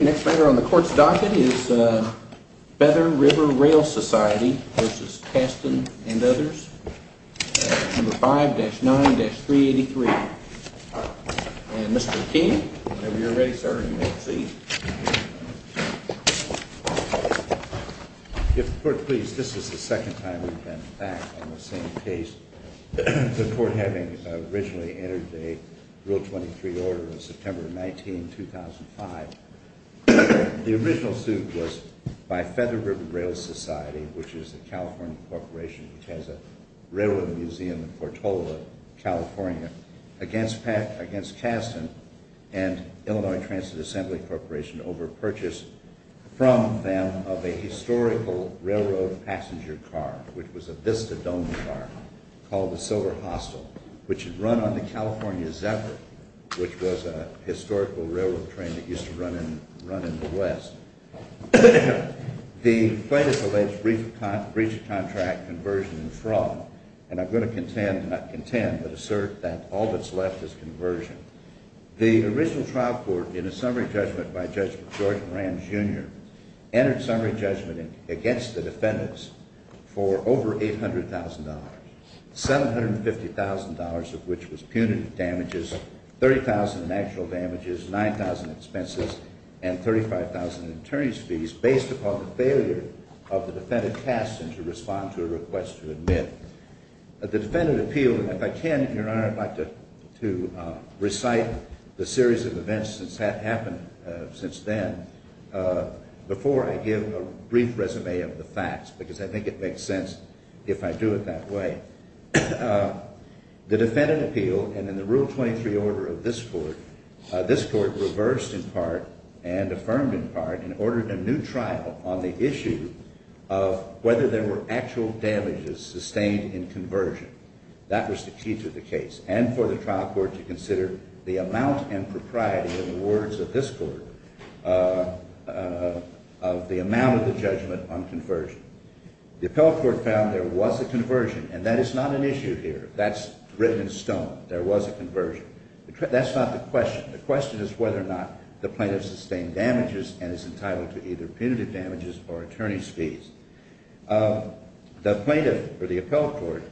and others, number 5-9-383. And Mr. Keene, whenever you're ready, sir, you may proceed. If the Court please, this is the second time we've been back on the same case, the Court having originally entered the Rule 23 Order of September 19, 2005. The original suit was by Feather River Rail Society, which is a California corporation, which has a railroad museum in Portola, California, against Kasten and Illinois Transit Assembly Corporation overpurchased from them of a historical railroad passenger car, which was a Vista-domed car called the Silver Hostel, which had run on the California Zephyr, which was a historical railroad train that used to run in the west. The plaintiff alleged breach of contract, conversion, and fraud, and I'm going to contend, not contend, but assert that all that's left is conversion. The original trial court, in a summary judgment by Judge George Moran, Jr., entered summary judgment against the defendants for over $800,000. $750,000 of which was punitive damages, $30,000 in actual damages, $9,000 in expenses, and $35,000 in attorney's fees, based upon the failure of the defendant, Kasten, to respond to a request to admit. The defendant appealed, and if I can, Your Honor, I'd like to recite the series of events that have happened since then before I give a brief resume of the facts, because I think it makes sense if I do it that way. The defendant appealed, and in the Rule 23 order of this Court, this Court reversed in part and affirmed in part and ordered a new trial on the issue of whether there were actual damages sustained in conversion. That was the key to the case, and for the trial court to consider the amount and propriety, in the words of this Court, of the amount of the judgment on conversion. The appellate court found there was a conversion, and that is not an issue here. That's written in stone. There was a conversion. That's not the question. The question is whether or not the plaintiff sustained damages and is entitled to either punitive damages or attorney's fees. The plaintiff, or the appellate court,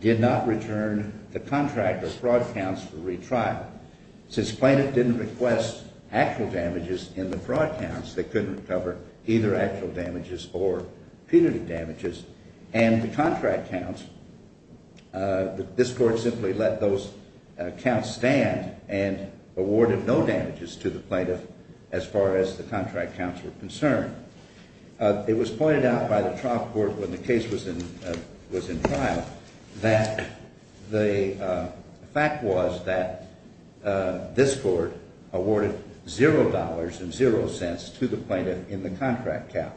did not return the contract or fraud counts for retrial. Since plaintiff didn't request actual damages in the fraud counts, they couldn't recover either actual damages or punitive damages, and the contract counts, this Court simply let those counts stand and awarded no damages to the plaintiff as far as the contract counts were concerned. It was pointed out by the trial court when the case was in trial that the fact was that this Court awarded $0.00 to the plaintiff in the contract counts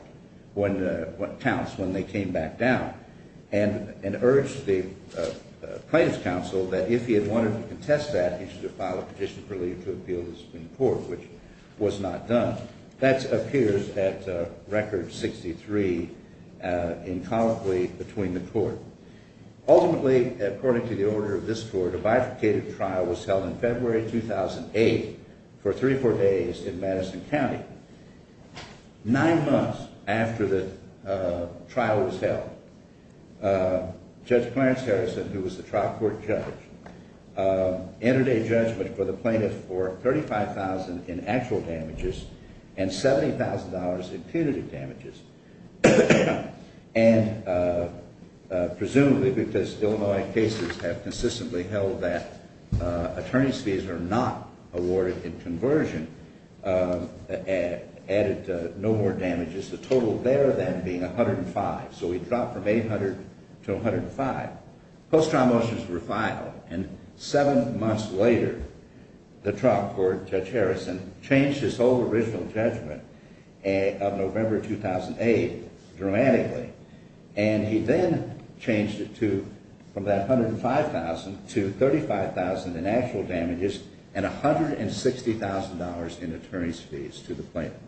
when they came back down and urged the plaintiff's counsel that if he had wanted to contest that, he should have filed a petition for leave to appeal the Supreme Court, which was not done. That appears at record 63 in colloquy between the Court. Ultimately, according to the order of this Court, a bifurcated trial was held in February 2008 for three or four days in Madison County. Nine months after the trial was held, Judge Clarence Harrison, who was the trial court judge, entered a judgment for the plaintiff for $35,000 in actual damages and $70,000 in punitive damages. And presumably because Illinois cases have consistently held that attorney's fees are not awarded in conversion, added no more damages, the total there then being $105,000, so he dropped from $800,000 to $105,000. Post-trial motions were filed, and seven months later, the trial court judge Harrison changed his whole original judgment of November 2008 dramatically. And he then changed it from that $105,000 to $35,000 in actual damages and $160,000 in attorney's fees to the plaintiff.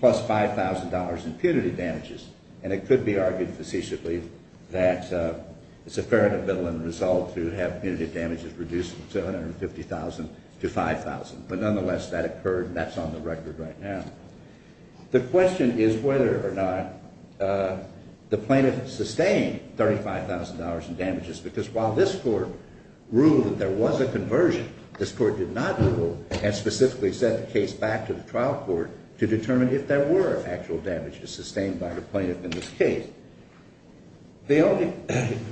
Plus $5,000 in punitive damages. And it could be argued facetiously that it's a fair and evident result to have punitive damages reduced to $150,000 to $5,000. But nonetheless, that occurred, and that's on the record right now. The question is whether or not the plaintiff sustained $35,000 in damages, because while this Court ruled that there was a conversion, this Court did not rule and specifically sent the case back to the trial court to determine if there were actual damages sustained by the plaintiff in this case. The only –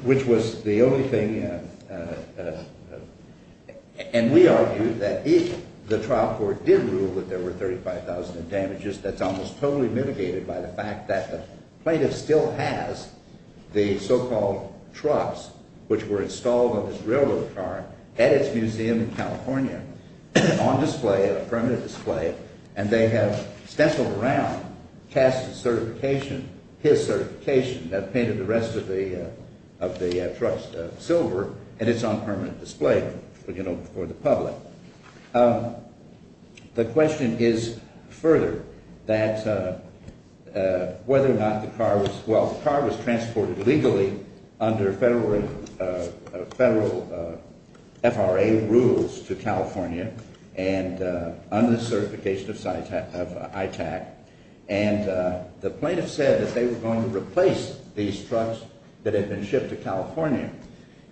which was the only thing – and we argue that if the trial court did rule that there were $35,000 in damages, that's almost totally mitigated by the fact that the plaintiff still has the so-called trucks which were installed on this railroad car at its museum in California on display, on permanent display, and they have stempled around Cass's certification, his certification that painted the rest of the trucks silver, and it's on permanent display for the public. The question is further that whether or not the car was – well, the car was transported legally under federal FRA rules to California and under the certification of ITAC, and the plaintiff said that they were going to replace these trucks that had been shipped to California.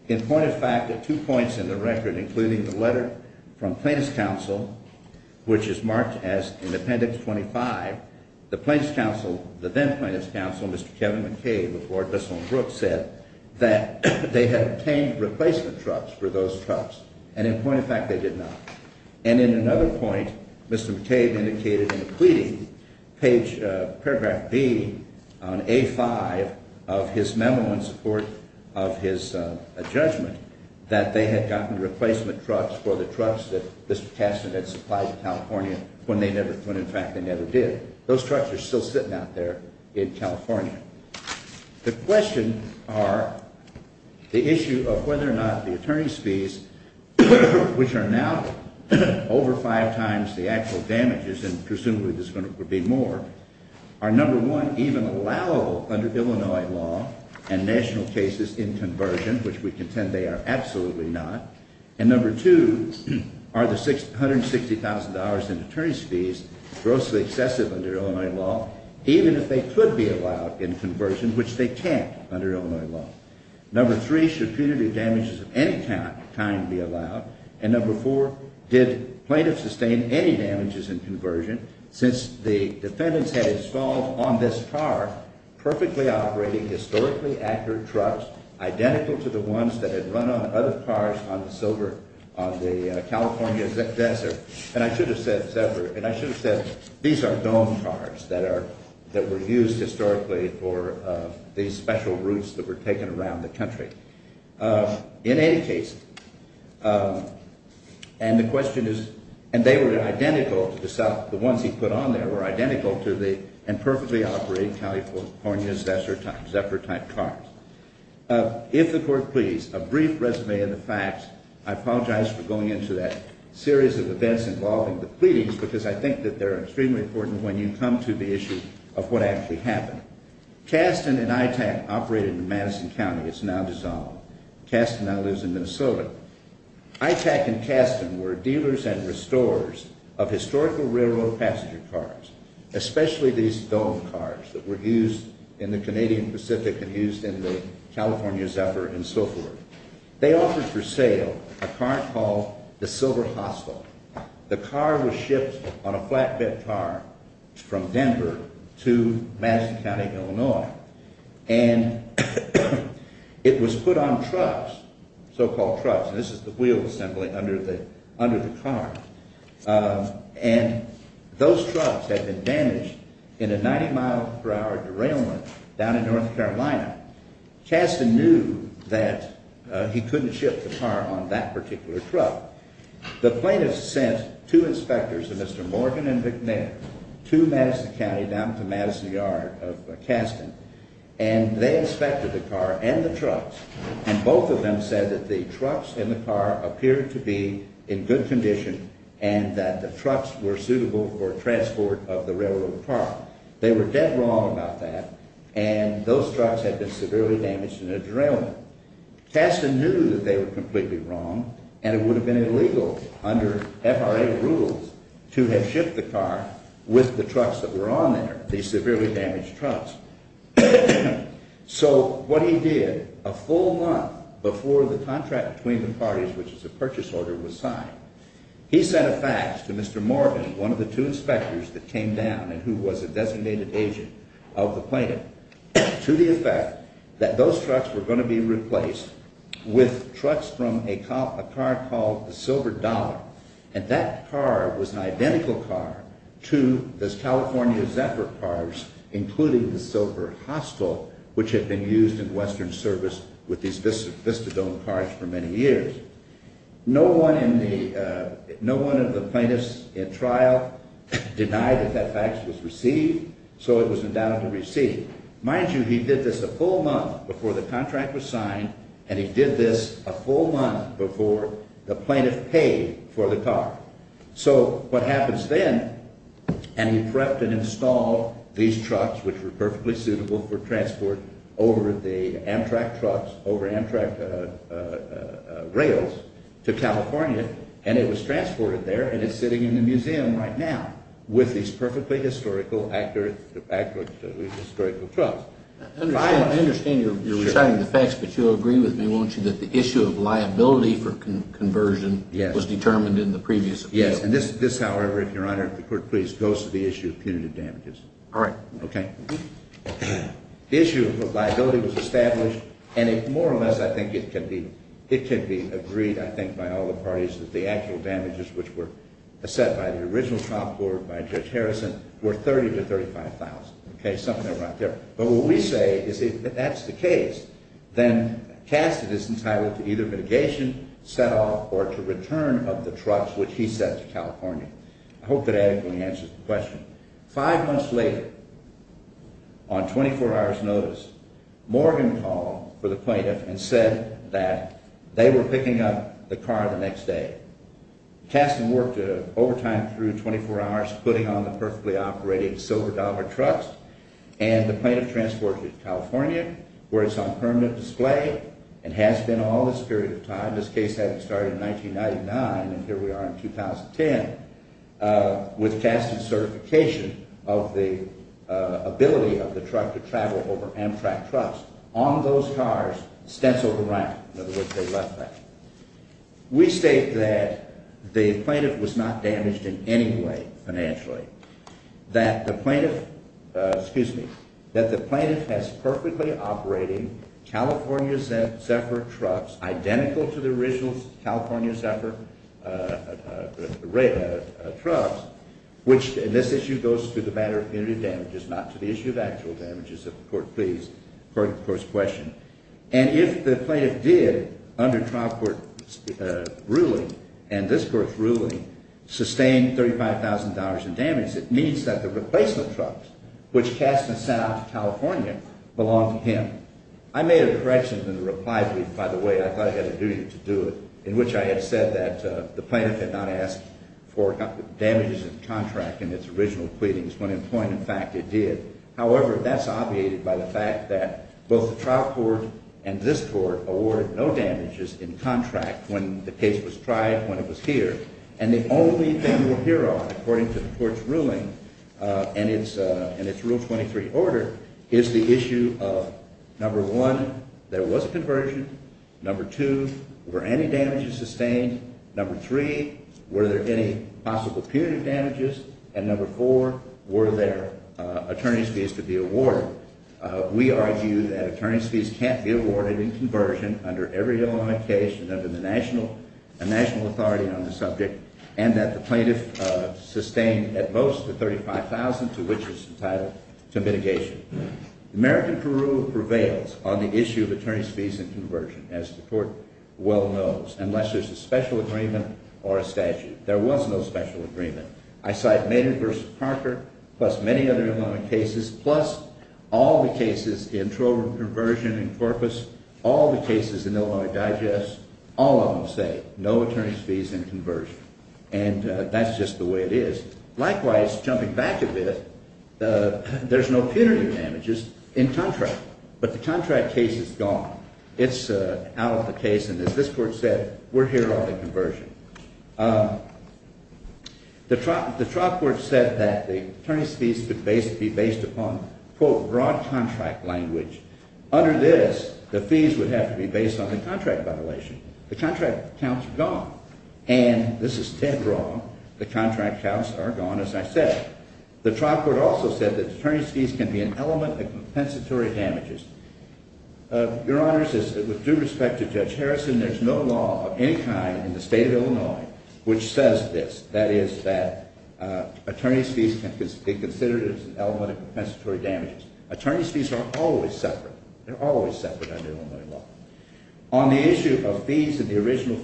In point of fact, the two points in the record, including the letter from Plaintiff's counsel, which is marked as in Appendix 25, the plaintiff's counsel, the then-plaintiff's counsel, Mr. Kevin McCabe of Lord Bissell and Brooks said that they had obtained replacement trucks for those trucks, and in point of fact, they did not. And in another point, Mr. McCabe indicated in a pleading, page – paragraph B on A5 of his memo in support of his judgment that they had gotten replacement trucks for the trucks that Mr. Castner had supplied to California when they never – when in fact they never did. Those trucks are still sitting out there in California. The question are the issue of whether or not the attorney's fees, which are now over five times the actual damages, and presumably there's going to be more, are, number one, even allowable under Illinois law and national cases in conversion, which we contend they are absolutely not, and number two, are the $160,000 in attorney's fees grossly excessive under Illinois law, even if they could be allowed in conversion, which they can't under Illinois law. Number three, should punitive damages of any kind be allowed, and number four, did plaintiffs sustain any damages in conversion since the defendants had installed on this car perfectly operating, historically accurate trucks identical to the ones that had run on other cars on the Silver – on the California desert? And I should have said – and I should have said these are dome cars that are – that were used historically for these special routes that were taken around the country. In any case, and the question is – and they were identical to the ones he put on there were identical to the – and perfectly operating California desert type cars. If the court please, a brief resume of the facts. I apologize for going into that series of events involving the pleadings because I think that they're extremely important when you come to the issue of what actually happened. Kasten and ITAC operated in Madison County. It's now dissolved. Kasten now lives in Minnesota. ITAC and Kasten were dealers and restorers of historical railroad passenger cars, especially these dome cars that were used in the Canadian Pacific and used in the California Zephyr and so forth. They offered for sale a car called the Silver Hostel. The car was shipped on a flatbed car from Denver to Madison County, Illinois, and it was put on trucks, so-called trucks. And this is the wheel assembly under the car. And those trucks had been damaged in a 90 mile per hour derailment down in North Carolina. Kasten knew that he couldn't ship the car on that particular truck. The plaintiffs sent two inspectors, a Mr. Morgan and Vic Mayer, to Madison County down to Madison Yard of Kasten, and they inspected the car and the trucks, and both of them said that the trucks in the car appeared to be in good condition and that the trucks were suitable for transport of the railroad car. They were dead wrong about that, and those trucks had been severely damaged in a derailment. Kasten knew that they were completely wrong, and it would have been illegal under FRA rules to have shipped the car with the trucks that were on there, these severely damaged trucks. So what he did, a full month before the contract between the parties, which is a purchase order, was signed, he sent a fax to Mr. Morgan, one of the two inspectors that came down and who was a designated agent of the plaintiff, to the effect that those trucks were going to be replaced with trucks from a car called the Silver Dollar. And that car was an identical car to the California Zephyr cars, including the Silver Hostel, which had been used in Western service with these Vista-dome cars for many years. No one of the plaintiffs in trial denied that that fax was received, so it was endowed to receive. Mind you, he did this a full month before the contract was signed, and he did this a full month before the plaintiff paid for the car. So what happens then, and he prepped and installed these trucks, which were perfectly suitable for transport over the Amtrak trucks, over Amtrak rails to California, and it was transported there and it's sitting in the museum right now with these perfectly historical… I understand you're resigning the fax, but you'll agree with me, won't you, that the issue of liability for conversion was determined in the previous appeal? Yes, and this, however, if Your Honor, if the Court please, goes to the issue of punitive damages. All right. The issue of liability was established, and it more or less, I think, it can be agreed, I think, by all the parties that the actual damages which were set by the original trial court, by Judge Harrison, were $30,000 to $35,000, okay, something around there. But what we say is if that's the case, then Cassett is entitled to either mitigation, set off, or to return of the trucks, which he sent to California. I hope that adequately answers the question. Five months later, on 24 hours' notice, Morgan called for the plaintiff and said that they were picking up the car the next day. Cassett worked overtime through 24 hours putting on the perfectly operating silver dollar trucks, and the plaintiff transported it to California, where it's on permanent display and has been all this period of time. This case had started in 1999, and here we are in 2010 with Cassett's certification of the ability of the truck to travel over Amtrak trucks. On those cars, stenciled around, in other words, they left that. We state that the plaintiff was not damaged in any way financially, that the plaintiff, excuse me, that the plaintiff has perfectly operating California Zephyr trucks identical to the original California Zephyr trucks, which in this issue goes to the matter of punitive damages, not to the issue of actual damages, if the court please, according to the court's question. And if the plaintiff did, under trial court's ruling and this court's ruling, sustain $35,000 in damage, it means that the replacement trucks, which Cassett sent out to California, belong to him. I made a correction in the reply brief, by the way. I thought I had a duty to do it, in which I had said that the plaintiff had not asked for damages in the contract in its original pleadings when, in point of fact, it did. However, that's obviated by the fact that both the trial court and this court awarded no damages in contract when the case was tried, when it was here. And the only thing we'll hear on, according to the court's ruling and its Rule 23 order, is the issue of, number one, there was a conversion. Number two, were any damages sustained? Number three, were there any possible punitive damages? And number four, were there attorney's fees to be awarded? We argue that attorney's fees can't be awarded in conversion under every Illinois case and under the national authority on the subject, and that the plaintiff sustained at most the $35,000 to which it's entitled to mitigation. American Peru prevails on the issue of attorney's fees in conversion, as the court well knows, unless there's a special agreement or a statute. There was no special agreement. I cite Maynard v. Parker, plus many other Illinois cases, plus all the cases in Trover Conversion and Corpus, all the cases in Illinois Digest, all of them say no attorney's fees in conversion. And that's just the way it is. Likewise, jumping back a bit, there's no punitive damages in contract. But the contract case is gone. It's out of the case, and as this court said, we're here on the conversion. The trial court said that the attorney's fees could be based upon, quote, broad contract language. Under this, the fees would have to be based on the contract violation. The contract counts are gone. And this is dead wrong. The contract counts are gone, as I said. The trial court also said that attorney's fees can be an element of compensatory damages. Your Honor, with due respect to Judge Harrison, there's no law of any kind in the state of Illinois which says this, that is, that attorney's fees can be considered as an element of compensatory damages. Attorney's fees are always separate. They're always separate under Illinois law. On the issue of fees in the original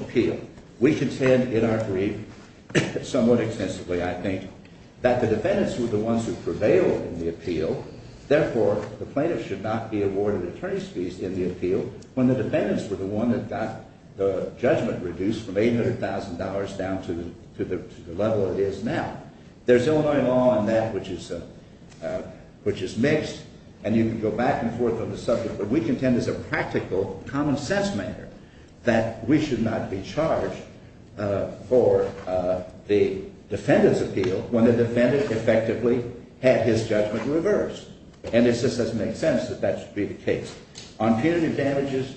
appeal, we contend in our brief somewhat extensively, I think, that the defendants were the ones who prevailed in the appeal. Therefore, the plaintiff should not be awarded attorney's fees in the appeal when the defendants were the one that got the judgment reduced from $800,000 down to the level it is now. There's Illinois law on that which is mixed, and you can go back and forth on the subject. But we contend as a practical, common-sense matter that we should not be charged for the defendant's appeal when the defendant effectively had his judgment reversed. And it just doesn't make sense that that should be the case. On punitive damages,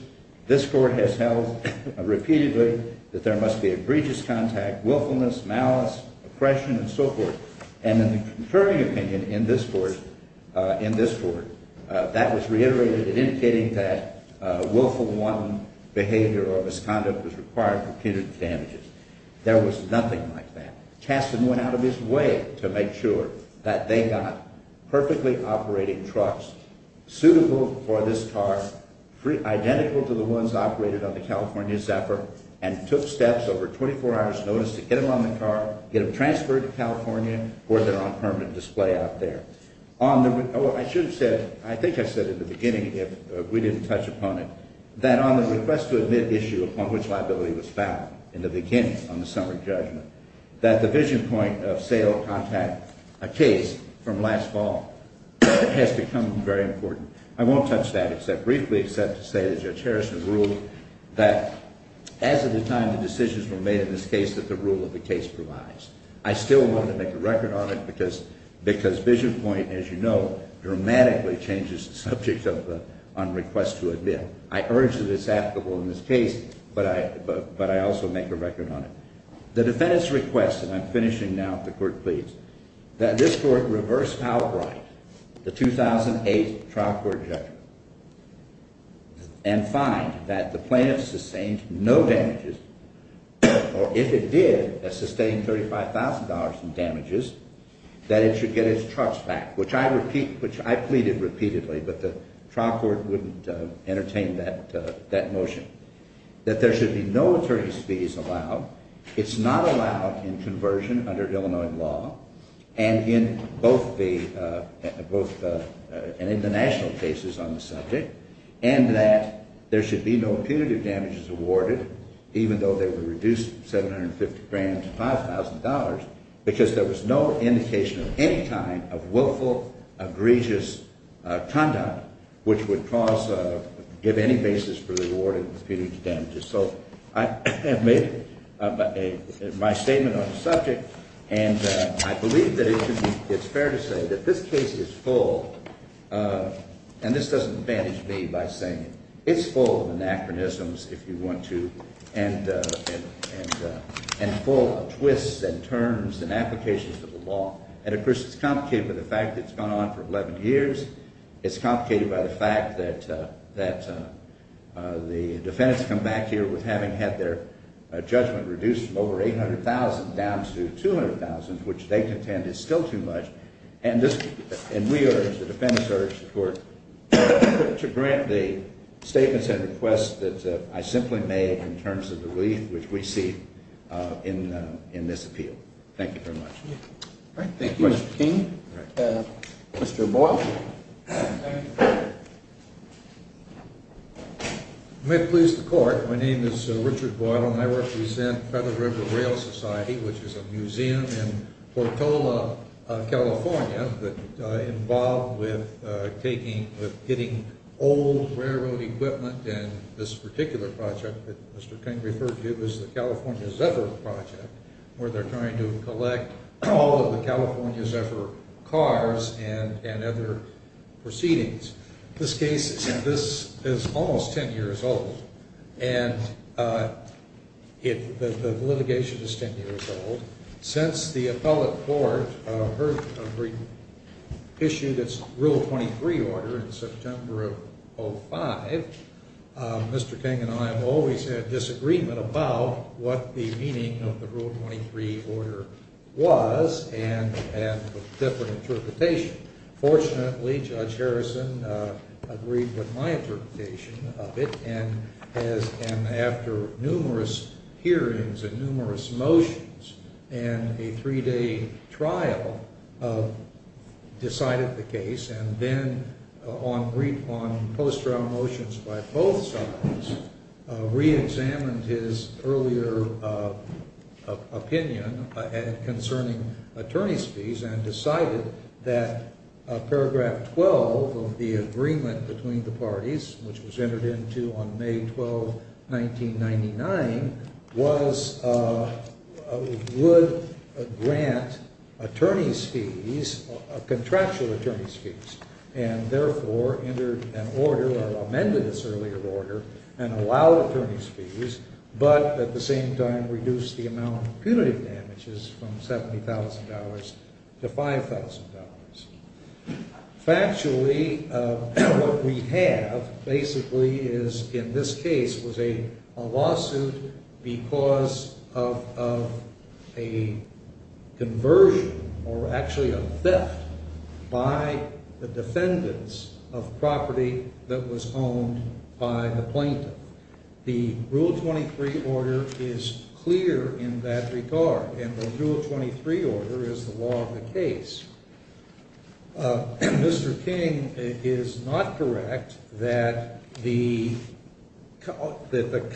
this Court has held repeatedly that there must be egregious contact, willfulness, malice, oppression, and so forth. And in the confirming opinion in this Court, that was reiterated in indicating that willful, wanton behavior or misconduct was required for punitive damages. There was nothing like that. Chaston went out of his way to make sure that they got perfectly operating trucks suitable for this car, identical to the ones operated on the California Zephyr, and took steps over 24 hours' notice to get them on the car, get them transferred to California, or they're on permanent display out there. I should have said, I think I said in the beginning if we didn't touch upon it, that on the request to admit issue upon which liability was found in the beginning on the summary judgment, that the vision point of sale contact, a case from last fall, has become very important. I won't touch that except briefly except to say that Judge Harrison ruled that as of the time the decisions were made in this case that the rule of the case provides. I still want to make a record on it because vision point, as you know, dramatically changes the subject on request to admit. I urge that it's applicable in this case, but I also make a record on it. The defendant's request, and I'm finishing now if the court pleads, that this court reverse outright the 2008 trial court judgment and find that the plaintiff sustained no damages, or if it did sustain $35,000 in damages, that it should get its trucks back, which I repeated repeatedly, but the trial court wouldn't entertain that motion. That there should be no attorney's fees allowed. It's not allowed in conversion under Illinois law, and in both the international cases on the subject, and that there should be no punitive damages awarded even though they were reduced $750,000 to $5,000 because there was no indication of any kind of willful, egregious conduct which would give any basis for the awarding of punitive damages. So I have made my statement on the subject, and I believe that it's fair to say that this case is full, and this doesn't advantage me by saying it. It's full of anachronisms, if you want to, and full of twists and turns and applications of the law. And, of course, it's complicated by the fact that it's gone on for 11 years. It's complicated by the fact that the defendants come back here with having had their judgment reduced from over $800,000 down to $200,000, which they contend is still too much, and we urge, the defendants urge the court to grant the statements and requests that I simply made in terms of the relief which we see in this appeal. Thank you very much. Thank you, Mr. King. Mr. Boyle. Thank you. May it please the court, my name is Richard Boyle, and I represent Feather River Rail Society, which is a museum in Portola, California, that involved with taking, with getting old railroad equipment, and this particular project that Mr. King referred to is the California Zephyr Project, where they're trying to collect all of the California Zephyr cars and other proceedings. This case is almost 10 years old, and the litigation is 10 years old. Since the appellate court issued its Rule 23 order in September of 2005, Mr. King and I have always had disagreement about what the meaning of the Rule 23 order was, and a different interpretation. Fortunately, Judge Harrison agreed with my interpretation of it, and after numerous hearings and numerous motions and a three-day trial, decided the case, and then on post-trial motions by both sides, re-examined his earlier opinion concerning attorney's fees and decided that paragraph 12 of the agreement between the parties, which was entered into on May 12, 1999, was, would grant attorney's fees, contractual attorney's fees, and therefore entered an order, or amended this earlier order, and allow attorney's fees, but at the same time reduce the amount of punitive damages from $70,000 to $5,000. Factually, what we have basically is, in this case, was a lawsuit because of a conversion, or actually a theft, by the defendants of property that was owned by the plaintiff. The Rule 23 order is clear in that regard, and the Rule 23 order is the law of the case. Mr. King is not correct that the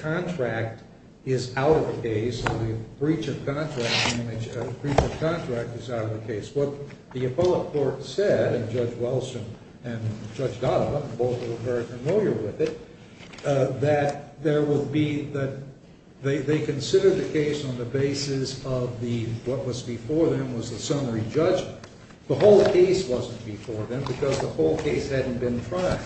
contract is out of the case, the breach of contract is out of the case. What the appellate court said, and Judge Wilson and Judge Donovan both were very familiar with it, that there would be, that they considered the case on the basis of the, what was before them was the summary judgment. The whole case wasn't before them because the whole case hadn't been tried.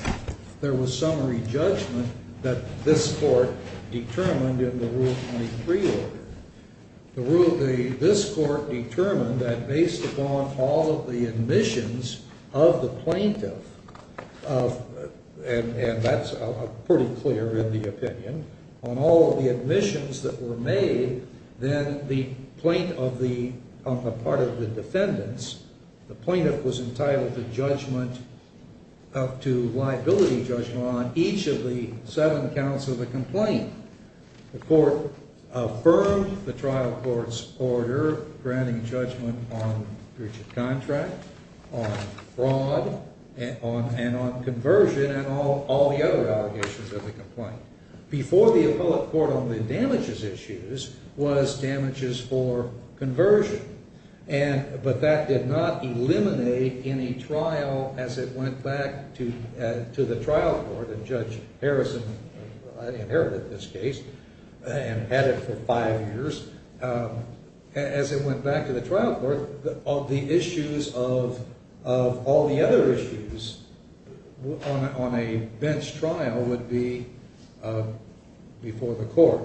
There was summary judgment that this court determined in the Rule 23 order. This court determined that based upon all of the admissions of the plaintiff, and that's pretty clear in the opinion, on all of the admissions that were made, then the plaintiff of the, on the part of the defendants, the plaintiff was entitled to judgment, to liability judgment on each of the seven counts of the complaint. The court affirmed the trial court's order granting judgment on breach of contract, on fraud, and on conversion, and all the other allegations of the complaint. Before the appellate court on the damages issues was damages for conversion. And, but that did not eliminate any trial as it went back to the trial court, and Judge Harrison inherited this case and had it for five years. As it went back to the trial court, all the issues of all the other issues on a bench trial would be before the court.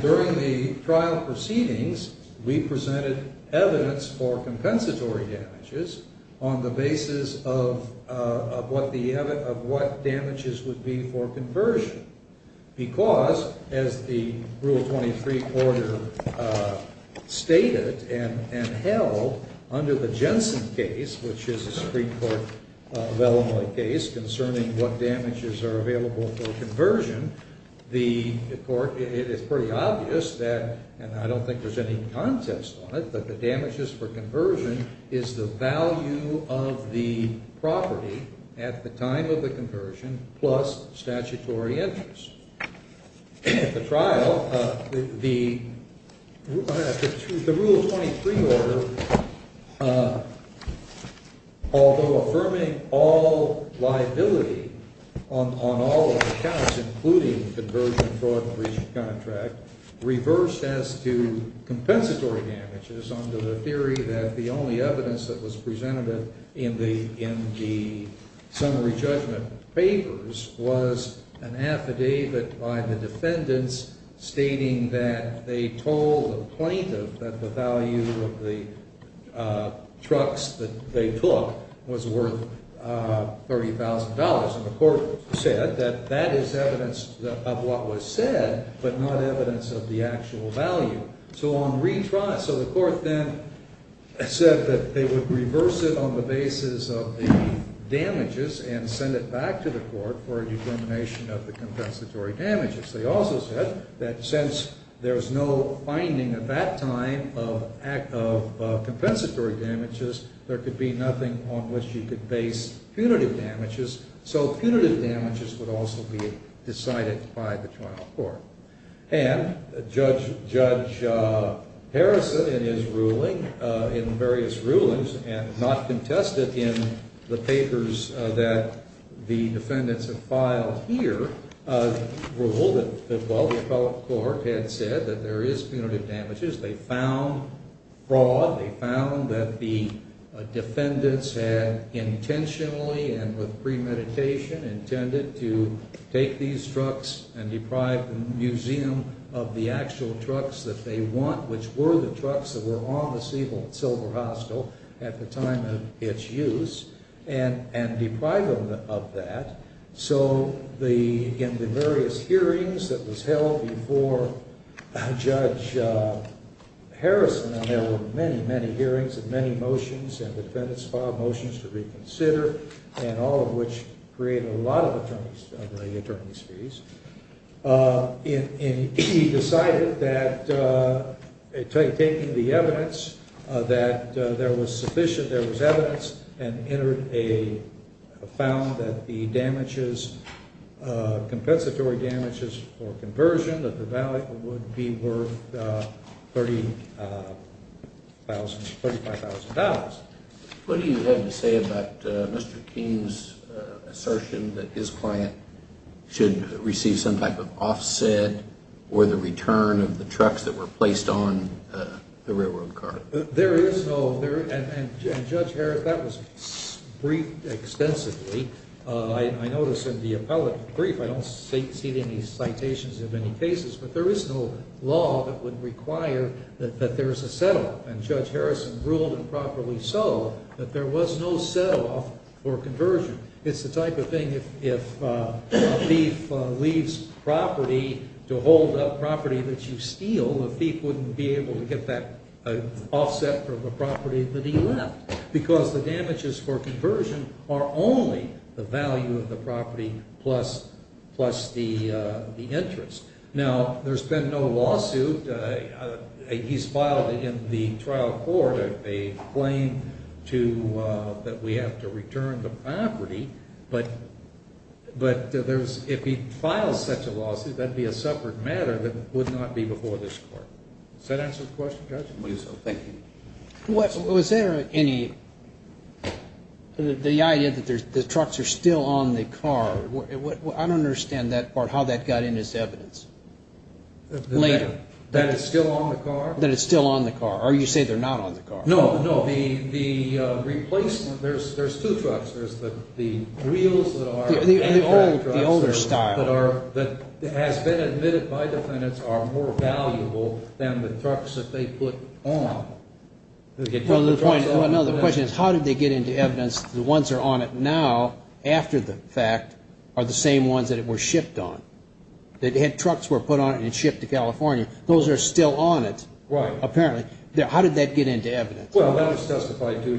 During the trial proceedings, we presented evidence for compensatory damages on the basis of what the, of what damages would be for conversion. Because, as the Rule 23 order stated and held under the Jensen case, which is a Supreme Court case concerning what damages are available for conversion, the court, it is pretty obvious that, and I don't think there's any contest on it, but the damages for conversion is the value of the property at the time of the conversion plus statutory entitlement. At the trial, the Rule 23 order, although affirming all liability on all of the counts, including conversion, fraud, and breach of contract, reversed as to compensatory damages under the theory that the only evidence that was presented in the summary judgment papers was an affidavit. An affidavit by the defendants stating that they told the plaintiff that the value of the trucks that they took was worth $30,000, and the court said that that is evidence of what was said, but not evidence of the actual value. So on retrial, so the court then said that they would reverse it on the basis of the damages and send it back to the court for a determination of the compensatory damages. They also said that since there was no finding at that time of compensatory damages, there could be nothing on which you could base punitive damages, so punitive damages would also be decided by the trial court. And Judge Harrison, in his ruling, in various rulings, and not contested in the papers that the defendants have filed here, ruled that while the appellate court had said that there is punitive damages, they found fraud. They found that the defendants had intentionally and with premeditation intended to take these trucks and deprive the museum of the actual trucks that they want, which were the trucks that were on the Silver Hostel at the time of its use, and deprive them of that. So in the various hearings that was held before Judge Harrison, and there were many, many hearings and many motions, and defendants filed motions to reconsider, and all of which created a lot of attorneys fees, and he decided that taking the evidence that there was sufficient evidence and found that the compensatory damages for conversion of the valley would be worth $35,000. What do you have to say about Mr. Keene's assertion that his client should receive some type of offset or the return of the trucks that were placed on the railroad car? There is no, and Judge Harrison, that was briefed extensively. I notice in the appellate brief, I don't see any citations of any cases, but there is no law that would require that there is a set-off, and Judge Harrison ruled improperly so that there was no set-off for conversion. It's the type of thing, if a thief leaves property to hold up property that you steal, the thief wouldn't be able to get that offset from the property that he left, because the damages for conversion are only the value of the property plus the interest. Now, there's been no lawsuit. He's filed in the trial court a claim that we have to return the property, but if he files such a lawsuit, that would be a separate matter that would not be before this court. Does that answer the question, Judge? Was there any, the idea that the trucks are still on the car, I don't understand that part, how that got in as evidence. That it's still on the car? That it's still on the car, or you say they're not on the car. No, no, the replacement, there's two trucks, there's the reels that are. The older style. That has been admitted by defendants are more valuable than the trucks that they put on. No, no, the question is how did they get into evidence, the ones that are on it now, after the fact, are the same ones that it was shipped on. The trucks were put on it and shipped to California, those are still on it, apparently. How did that get into evidence? Well, that was testified to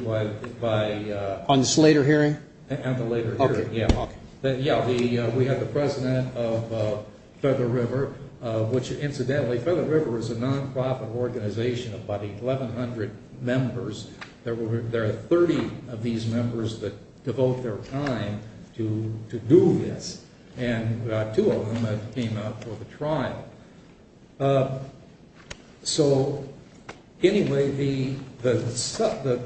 by. On this later hearing? At the later hearing, yeah. Yeah, we had the president of Feather River, which incidentally, Feather River is a non-profit organization of about 1100 members. There are 30 of these members that devote their time to do this. And two of them came out for the trial. So, anyway, the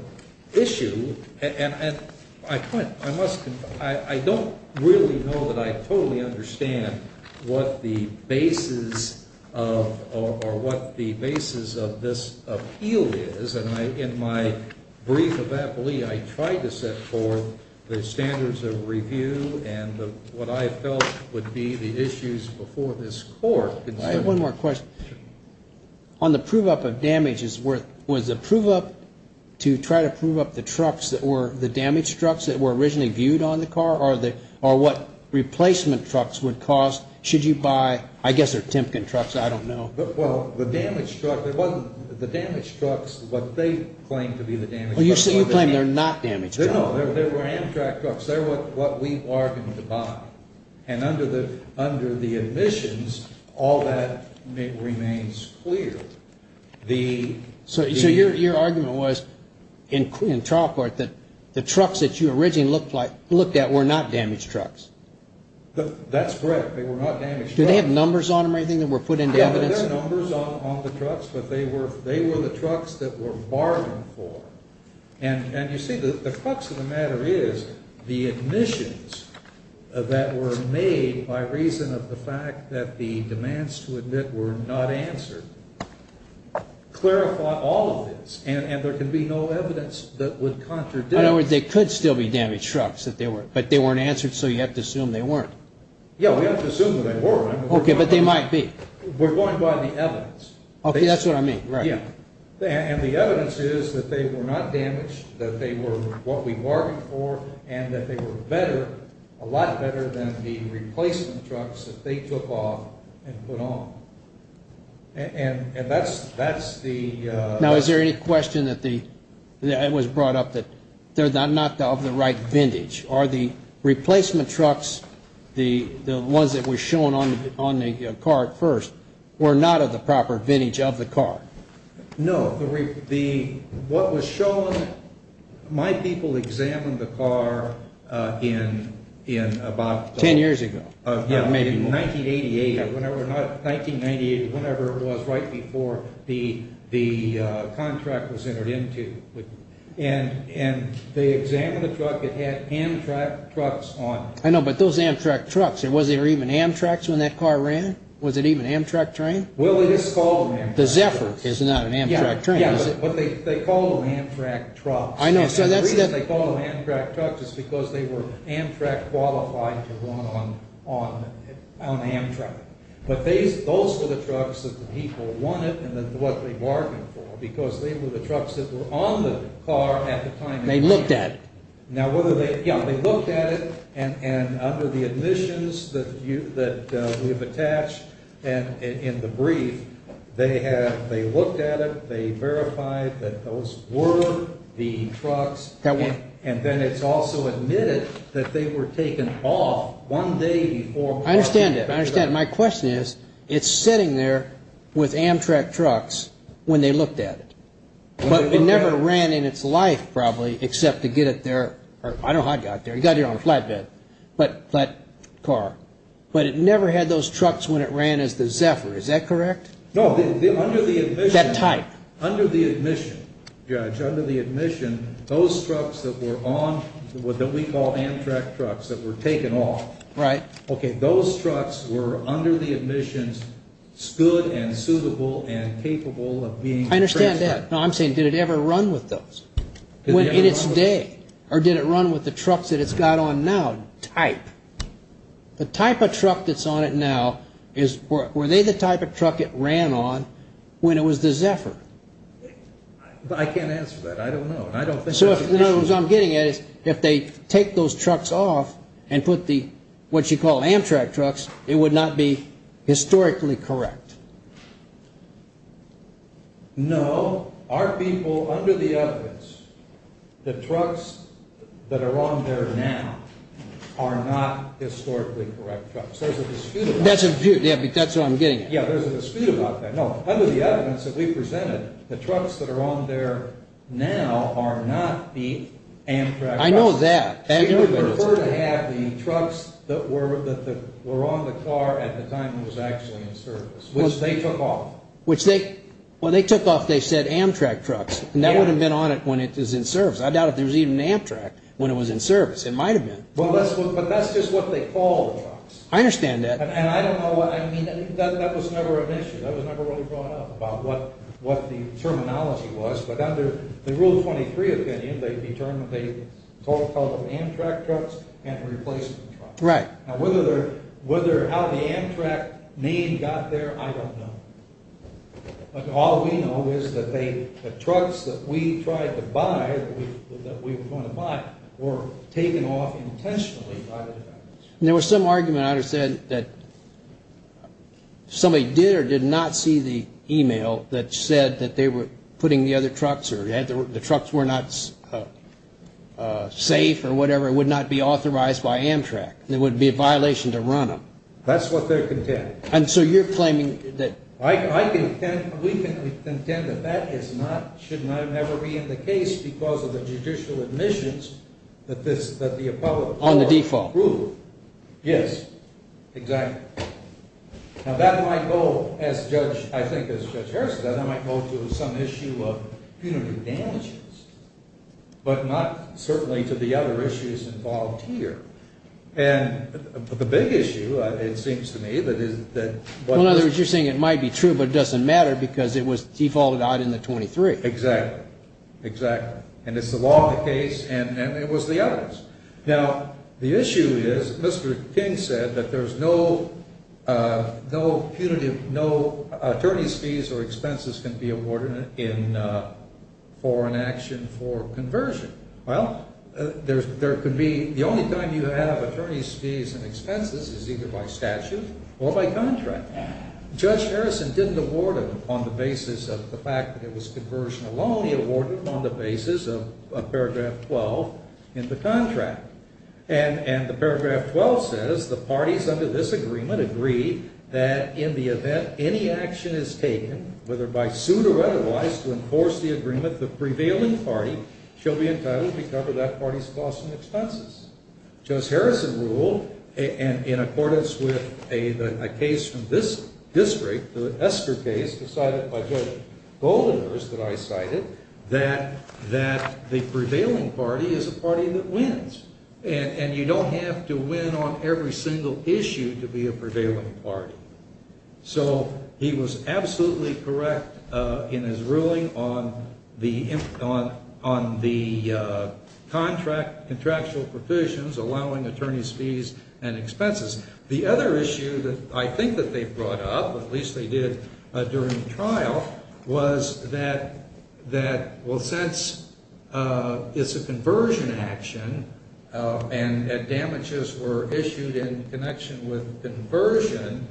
issue, and I must, I don't really know that I totally understand what the basis of, or what the basis of this appeal is. And in my brief of appellee, I tried to set forth the standards of review and what I felt would be the issues before this court. I have one more question. On the prove-up of damages, was the prove-up to try to prove up the trucks that were the damaged trucks that were originally viewed on the car? Or what replacement trucks would cost? Should you buy, I guess they're Timken trucks, I don't know. Well, the damaged trucks, what they claim to be the damaged trucks. Oh, you're saying they're not damaged trucks. No, they were Amtrak trucks. They're what we bargained to buy. And under the admissions, all that remains clear. So your argument was, in trial court, that the trucks that you originally looked at were not damaged trucks? That's correct. They were not damaged trucks. Do they have numbers on them or anything that were put into evidence? Yeah, there are numbers on the trucks, but they were the trucks that were bargained for. And you see, the crux of the matter is, the admissions that were made by reason of the fact that the demands to admit were not answered clarified all of this. And there can be no evidence that would contradict. In other words, they could still be damaged trucks, but they weren't answered, so you have to assume they weren't. Yeah, we have to assume that they weren't. Okay, but they might be. We're going by the evidence. Okay, that's what I mean. Yeah. And the evidence is that they were not damaged, that they were what we bargained for, and that they were better, a lot better than the replacement trucks that they took off and put on. And that's the... Now, is there any question that was brought up that they're not of the right vintage? Are the replacement trucks, the ones that were shown on the car at first, were not of the proper vintage of the car? No. What was shown, my people examined the car in about... Ten years ago. Yeah, maybe more. 1998, whenever it was, right before the contract was entered into. And they examined the truck. It had Amtrak trucks on it. I know, but those Amtrak trucks, was there even Amtraks when that car ran? Was it even Amtrak train? Well, it is called Amtrak. The Zephyr is not an Amtrak train, is it? Yeah, but they called them Amtrak trucks. I know, so that's... The reason they called them Amtrak trucks is because they were Amtrak qualified to run on Amtrak. But those were the trucks that the people wanted and what they bargained for, because they were the trucks that were on the car at the time. They looked at it. Yeah, they looked at it. And under the admissions that we have attached in the brief, they looked at it, they verified that those were the trucks. And then it's also admitted that they were taken off one day before... I understand that. I understand. My question is, it's sitting there with Amtrak trucks when they looked at it. But it never ran in its life, probably, except to get it there. I don't know how it got there. It got there on a flatbed, flat car. But it never had those trucks when it ran as the Zephyr. Is that correct? No, under the admission... That type. That we call Amtrak trucks that were taken off. Right. Okay, those trucks were under the admissions good and suitable and capable of being... I understand that. No, I'm saying did it ever run with those in its day? Or did it run with the trucks that it's got on now? Type. The type of truck that's on it now, were they the type of truck it ran on when it was the Zephyr? I can't answer that. I don't know. In other words, what I'm getting at is if they take those trucks off and put the, what you call Amtrak trucks, it would not be historically correct. No, our people, under the evidence, the trucks that are on there now are not historically correct trucks. There's a dispute about that. That's what I'm getting at. Yeah, there's a dispute about that. No, under the evidence that we presented, the trucks that are on there now are not the Amtrak trucks. I know that. They would prefer to have the trucks that were on the car at the time it was actually in service, which they took off. Which they, when they took off, they said Amtrak trucks. And that would have been on it when it was in service. I doubt if there was even an Amtrak when it was in service. It might have been. But that's just what they call the trucks. I understand that. And I don't know what, I mean, that was never an issue. That was never really brought up about what the terminology was. But under the Rule 23 opinion, they called them Amtrak trucks and replacement trucks. Right. Now whether how the Amtrak name got there, I don't know. But all we know is that the trucks that we tried to buy, that we were going to buy, were taken off intentionally by the defenders. There was some argument, I understand, that somebody did or did not see the email that said that they were putting the other trucks, or the trucks were not safe or whatever, would not be authorized by Amtrak. It would be a violation to run them. That's what they're contending. And so you're claiming that. We can contend that that should never be in the case because of the judicial admissions that the appellate court approved. On the default. Yes, exactly. Now that might go, I think as Judge Harrison said, that might go to some issue of punitive damages. But not certainly to the other issues involved here. And the big issue, it seems to me, that is that. Well, in other words, you're saying it might be true, but it doesn't matter because it was defaulted out in the 23. Exactly. Exactly. And it's the law of the case, and it was the evidence. Now, the issue is, Mr. King said that there's no punitive, no attorney's fees or expenses can be awarded for an action for conversion. Well, there could be. The only time you have attorney's fees and expenses is either by statute or by contract. Judge Harrison didn't award them on the basis of the fact that it was conversion alone. He awarded them on the basis of paragraph 12 in the contract. And the paragraph 12 says, the parties under this agreement agree that in the event any action is taken, whether by suit or otherwise, to enforce the agreement, the prevailing party shall be entitled to recover that party's costs and expenses. Judge Harrison ruled, in accordance with a case from this district, the Esker case decided by Judge Goldenhurst that I cited, that the prevailing party is a party that wins. And you don't have to win on every single issue to be a prevailing party. So he was absolutely correct in his ruling on the contractual provisions allowing attorney's fees and expenses. The other issue that I think that they brought up, at least they did during the trial, was that, well, since it's a conversion action and damages were issued in connection with conversion,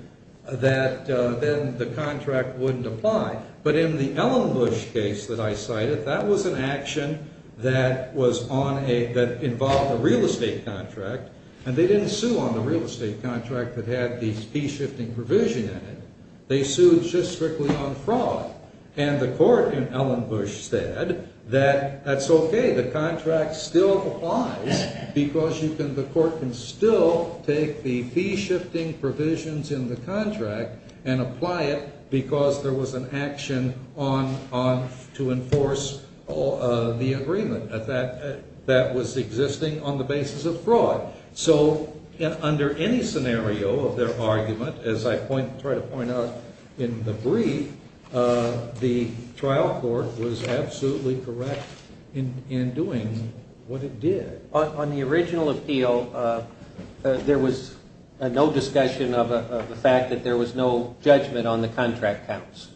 that then the contract wouldn't apply. But in the Ellenbush case that I cited, that was an action that involved a real estate contract. And they didn't sue on the real estate contract that had the fee-shifting provision in it. They sued just strictly on fraud. And the court in Ellenbush said that that's okay, the contract still applies because the court can still take the fee-shifting provisions in the contract and apply it because there was an action to enforce the agreement that was existing on the basis of fraud. So under any scenario of their argument, as I try to point out in the brief, the trial court was absolutely correct in doing what it did. On the original appeal, there was no discussion of the fact that there was no judgment on the contract counts.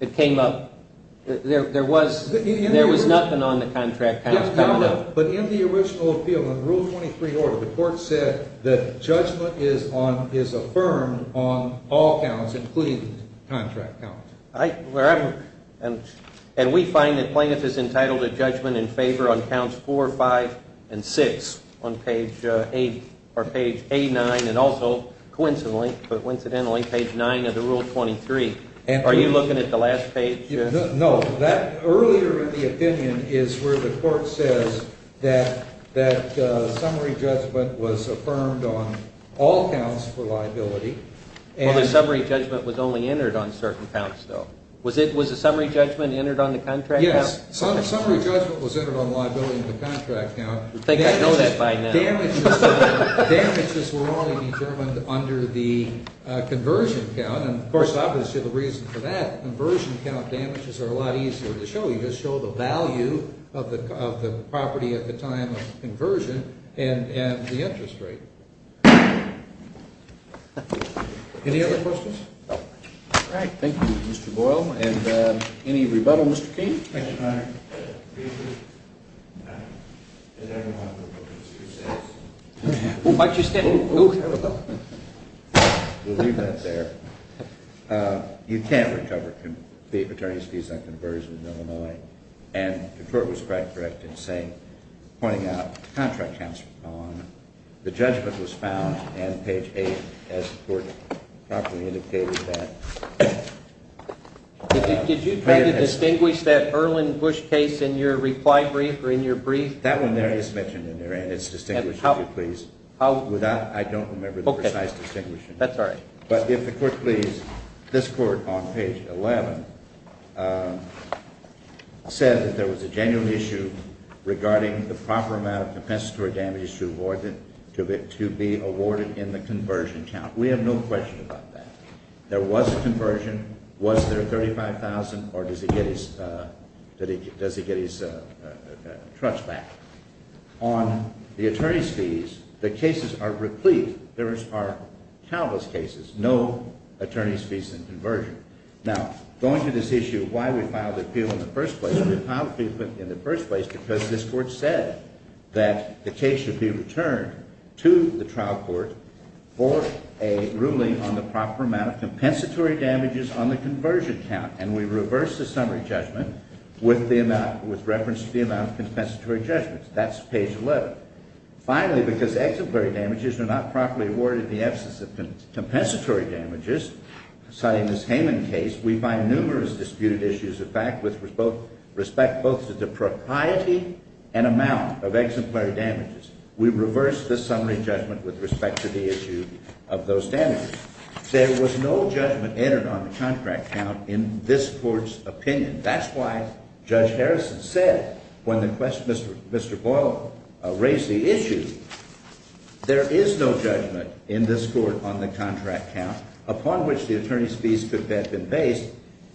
It came up. There was nothing on the contract counts coming up. But in the original appeal, in Rule 23 order, the court said that judgment is affirmed on all counts, including contract counts. And we find that plaintiff is entitled to judgment in favor on counts 4, 5, and 6 on page 8 or page 89, and also coincidentally, but incidentally, page 9 of the Rule 23. Are you looking at the last page? No. Earlier in the opinion is where the court says that summary judgment was affirmed on all counts for liability. Well, the summary judgment was only entered on certain counts, though. Was the summary judgment entered on the contract count? Yes. Summary judgment was entered on liability in the contract count. I think I know that by now. Damages were only determined under the conversion count. Of course, obviously, the reason for that, conversion count damages are a lot easier to show. You just show the value of the property at the time of conversion and the interest rate. Any other questions? All right. Thank you, Mr. Boyle. And any rebuttal, Mr. King? Thank you, Your Honor. You can't recover the attorney's fees on conversion in Illinois, and the court was quite correct in saying, pointing out, the contract counts were gone, the judgment was found, and page 8, as the court properly indicated that. Did you try to distinguish that Erlin Bush case in your reply brief or in your brief? That one there is mentioned in there, and it's distinguished, if you please. I don't remember the precise distinguishing. That's all right. But if the court please, this court on page 11 said that there was a genuine issue regarding the proper amount of compensatory damages to be awarded in the conversion count. We have no question about that. There was a conversion. Was there $35,000, or does he get his trust back? On the attorney's fees, the cases are replete. There are countless cases, no attorney's fees and conversion. Now, going to this issue of why we filed the appeal in the first place, we filed the appeal in the first place because this court said that the case should be returned to the trial court for a ruling on the proper amount of compensatory damages on the conversion count. And we reversed the summary judgment with reference to the amount of compensatory judgments. That's page 11. Finally, because exemplary damages are not properly awarded in the absence of compensatory damages, citing this Hayman case, we find numerous disputed issues of fact with respect both to the propriety and amount of exemplary damages. We reversed the summary judgment with respect to the issue of those damages. There was no judgment entered on the contract count in this court's opinion. That's why Judge Harrison said when Mr. Boyle raised the issue, there is no judgment in this court on the contract count upon which the attorney's fees could have been based.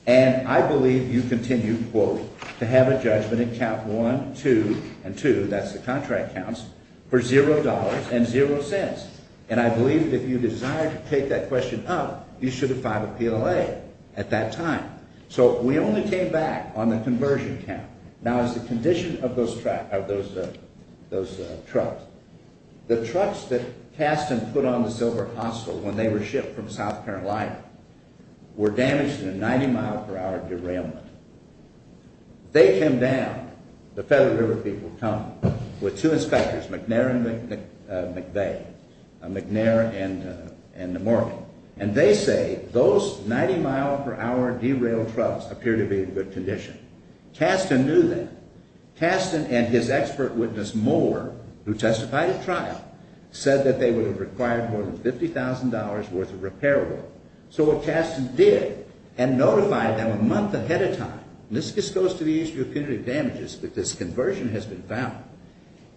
And I believe you continue, quote, to have a judgment in count 1, 2, and 2, that's the contract counts, for $0.00 and 0 cents. And I believe if you desire to take that question up, you should have filed an appeal at that time. So we only came back on the conversion count. Now, as a condition of those trucks, the trucks that cast and put on the Silver Hostel when they were shipped from South Carolina were damaged in a 90-mile-per-hour derailment. They came down, the Feather River people come, with two inspectors, McNair and McVeigh, McNair and Morgan, and they say those 90-mile-per-hour derailed trucks appear to be in good condition. Caston knew that. Caston and his expert witness Moore, who testified at trial, said that they would have required more than $50,000 worth of repair work. So what Caston did and notified them a month ahead of time, and this goes to the issue of punitive damages, but this conversion has been found.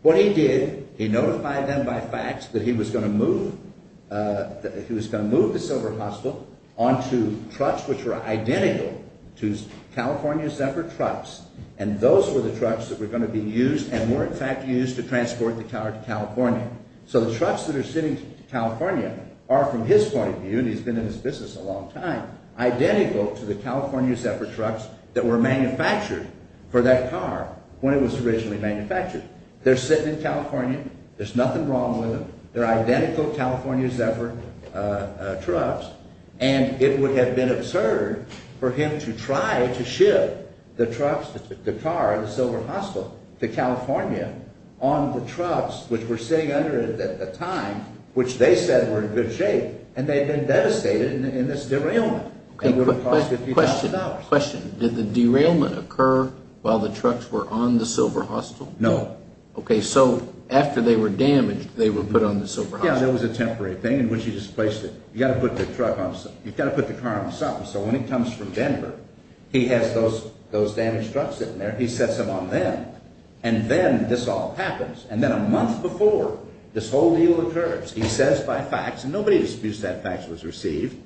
What he did, he notified them by fact that he was going to move the Silver Hostel onto trucks which were identical to California's separate trucks, and those were the trucks that were going to be used and were, in fact, used to transport the tower to California. So the trucks that are sitting in California are, from his point of view, and he's been in this business a long time, identical to the California's separate trucks that were manufactured for that car when it was originally manufactured. They're sitting in California, there's nothing wrong with them, they're identical California's separate trucks, and it would have been absurd for him to try to ship the trucks, the car, the Silver Hostel to California on the trucks which were sitting under it at the time, which they said were in good shape, and they'd been devastated in this derailment. It would have cost a few thousand dollars. Question, did the derailment occur while the trucks were on the Silver Hostel? No. Okay, so after they were damaged, they were put on the Silver Hostel. Yeah, there was a temporary thing in which he just placed it. You've got to put the car on something. So when he comes from Denver, he has those damaged trucks in there, he sets them on them, and then this all happens. And then a month before, this whole deal occurs. He says by fax, and nobody disputes that fax was received,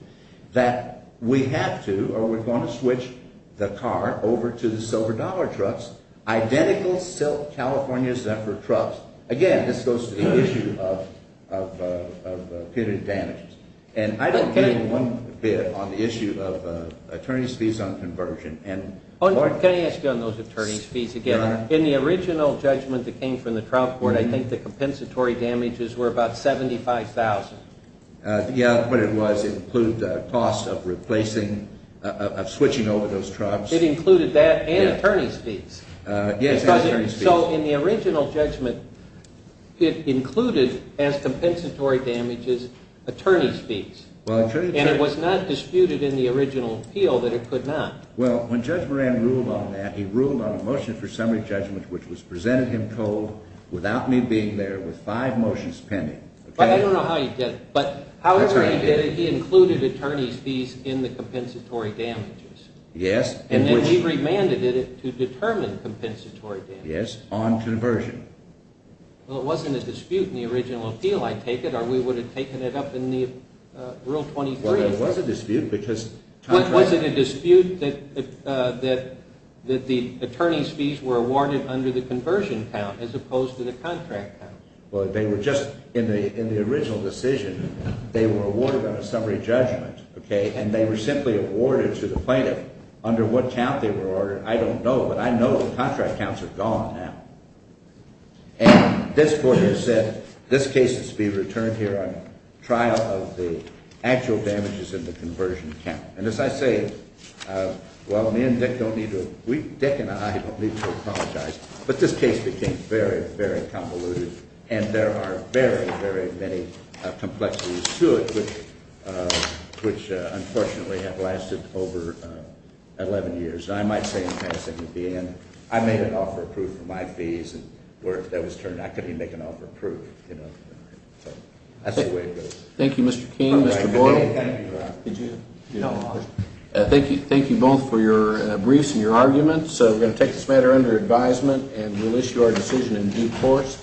that we have to or we're going to switch the car over to the Silver Dollar trucks, identical silk California separate trucks. Again, this goes to the issue of pitted damages, and I don't care one bit on the issue of attorney's fees on conversion. Can I ask you on those attorney's fees again? In the original judgment that came from the trial court, I think the compensatory damages were about $75,000. Yeah, but it was include the cost of replacing, of switching over those trucks. It included that and attorney's fees. Yes, and attorney's fees. So in the original judgment, it included as compensatory damages attorney's fees. And it was not disputed in the original appeal that it could not. Well, when Judge Moran ruled on that, he ruled on a motion for summary judgment which was presented him cold without me being there with five motions pending. I don't know how he did it, but however he did it, he included attorney's fees in the compensatory damages. Yes. And then he remanded it to determine compensatory damages. Yes, on conversion. Well, it wasn't a dispute in the original appeal, I take it, or we would have taken it up in the Rule 23. Well, it was a dispute because contract. Was it a dispute that the attorney's fees were awarded under the conversion count as opposed to the contract count? Well, they were just in the original decision. They were awarded on a summary judgment, okay, and they were simply awarded to the plaintiff. Under what count they were awarded, I don't know, but I know the contract counts are gone now. And this Court has said this case is to be returned here on trial of the actual damages in the conversion count. And as I say, well, me and Dick don't need to – Dick and I don't need to apologize, but this case became very, very convoluted, and there are very, very many complexities to it, which unfortunately have lasted over 11 years. I might say in passing at the end, I made an offer approved for my fees, and where that was turned, I couldn't even make an offer approved, you know. So that's the way it goes. Thank you, Mr. King, Mr. Boyle. Thank you both for your briefs and your arguments. So we're going to take this matter under advisement, and we'll issue our decision in due course.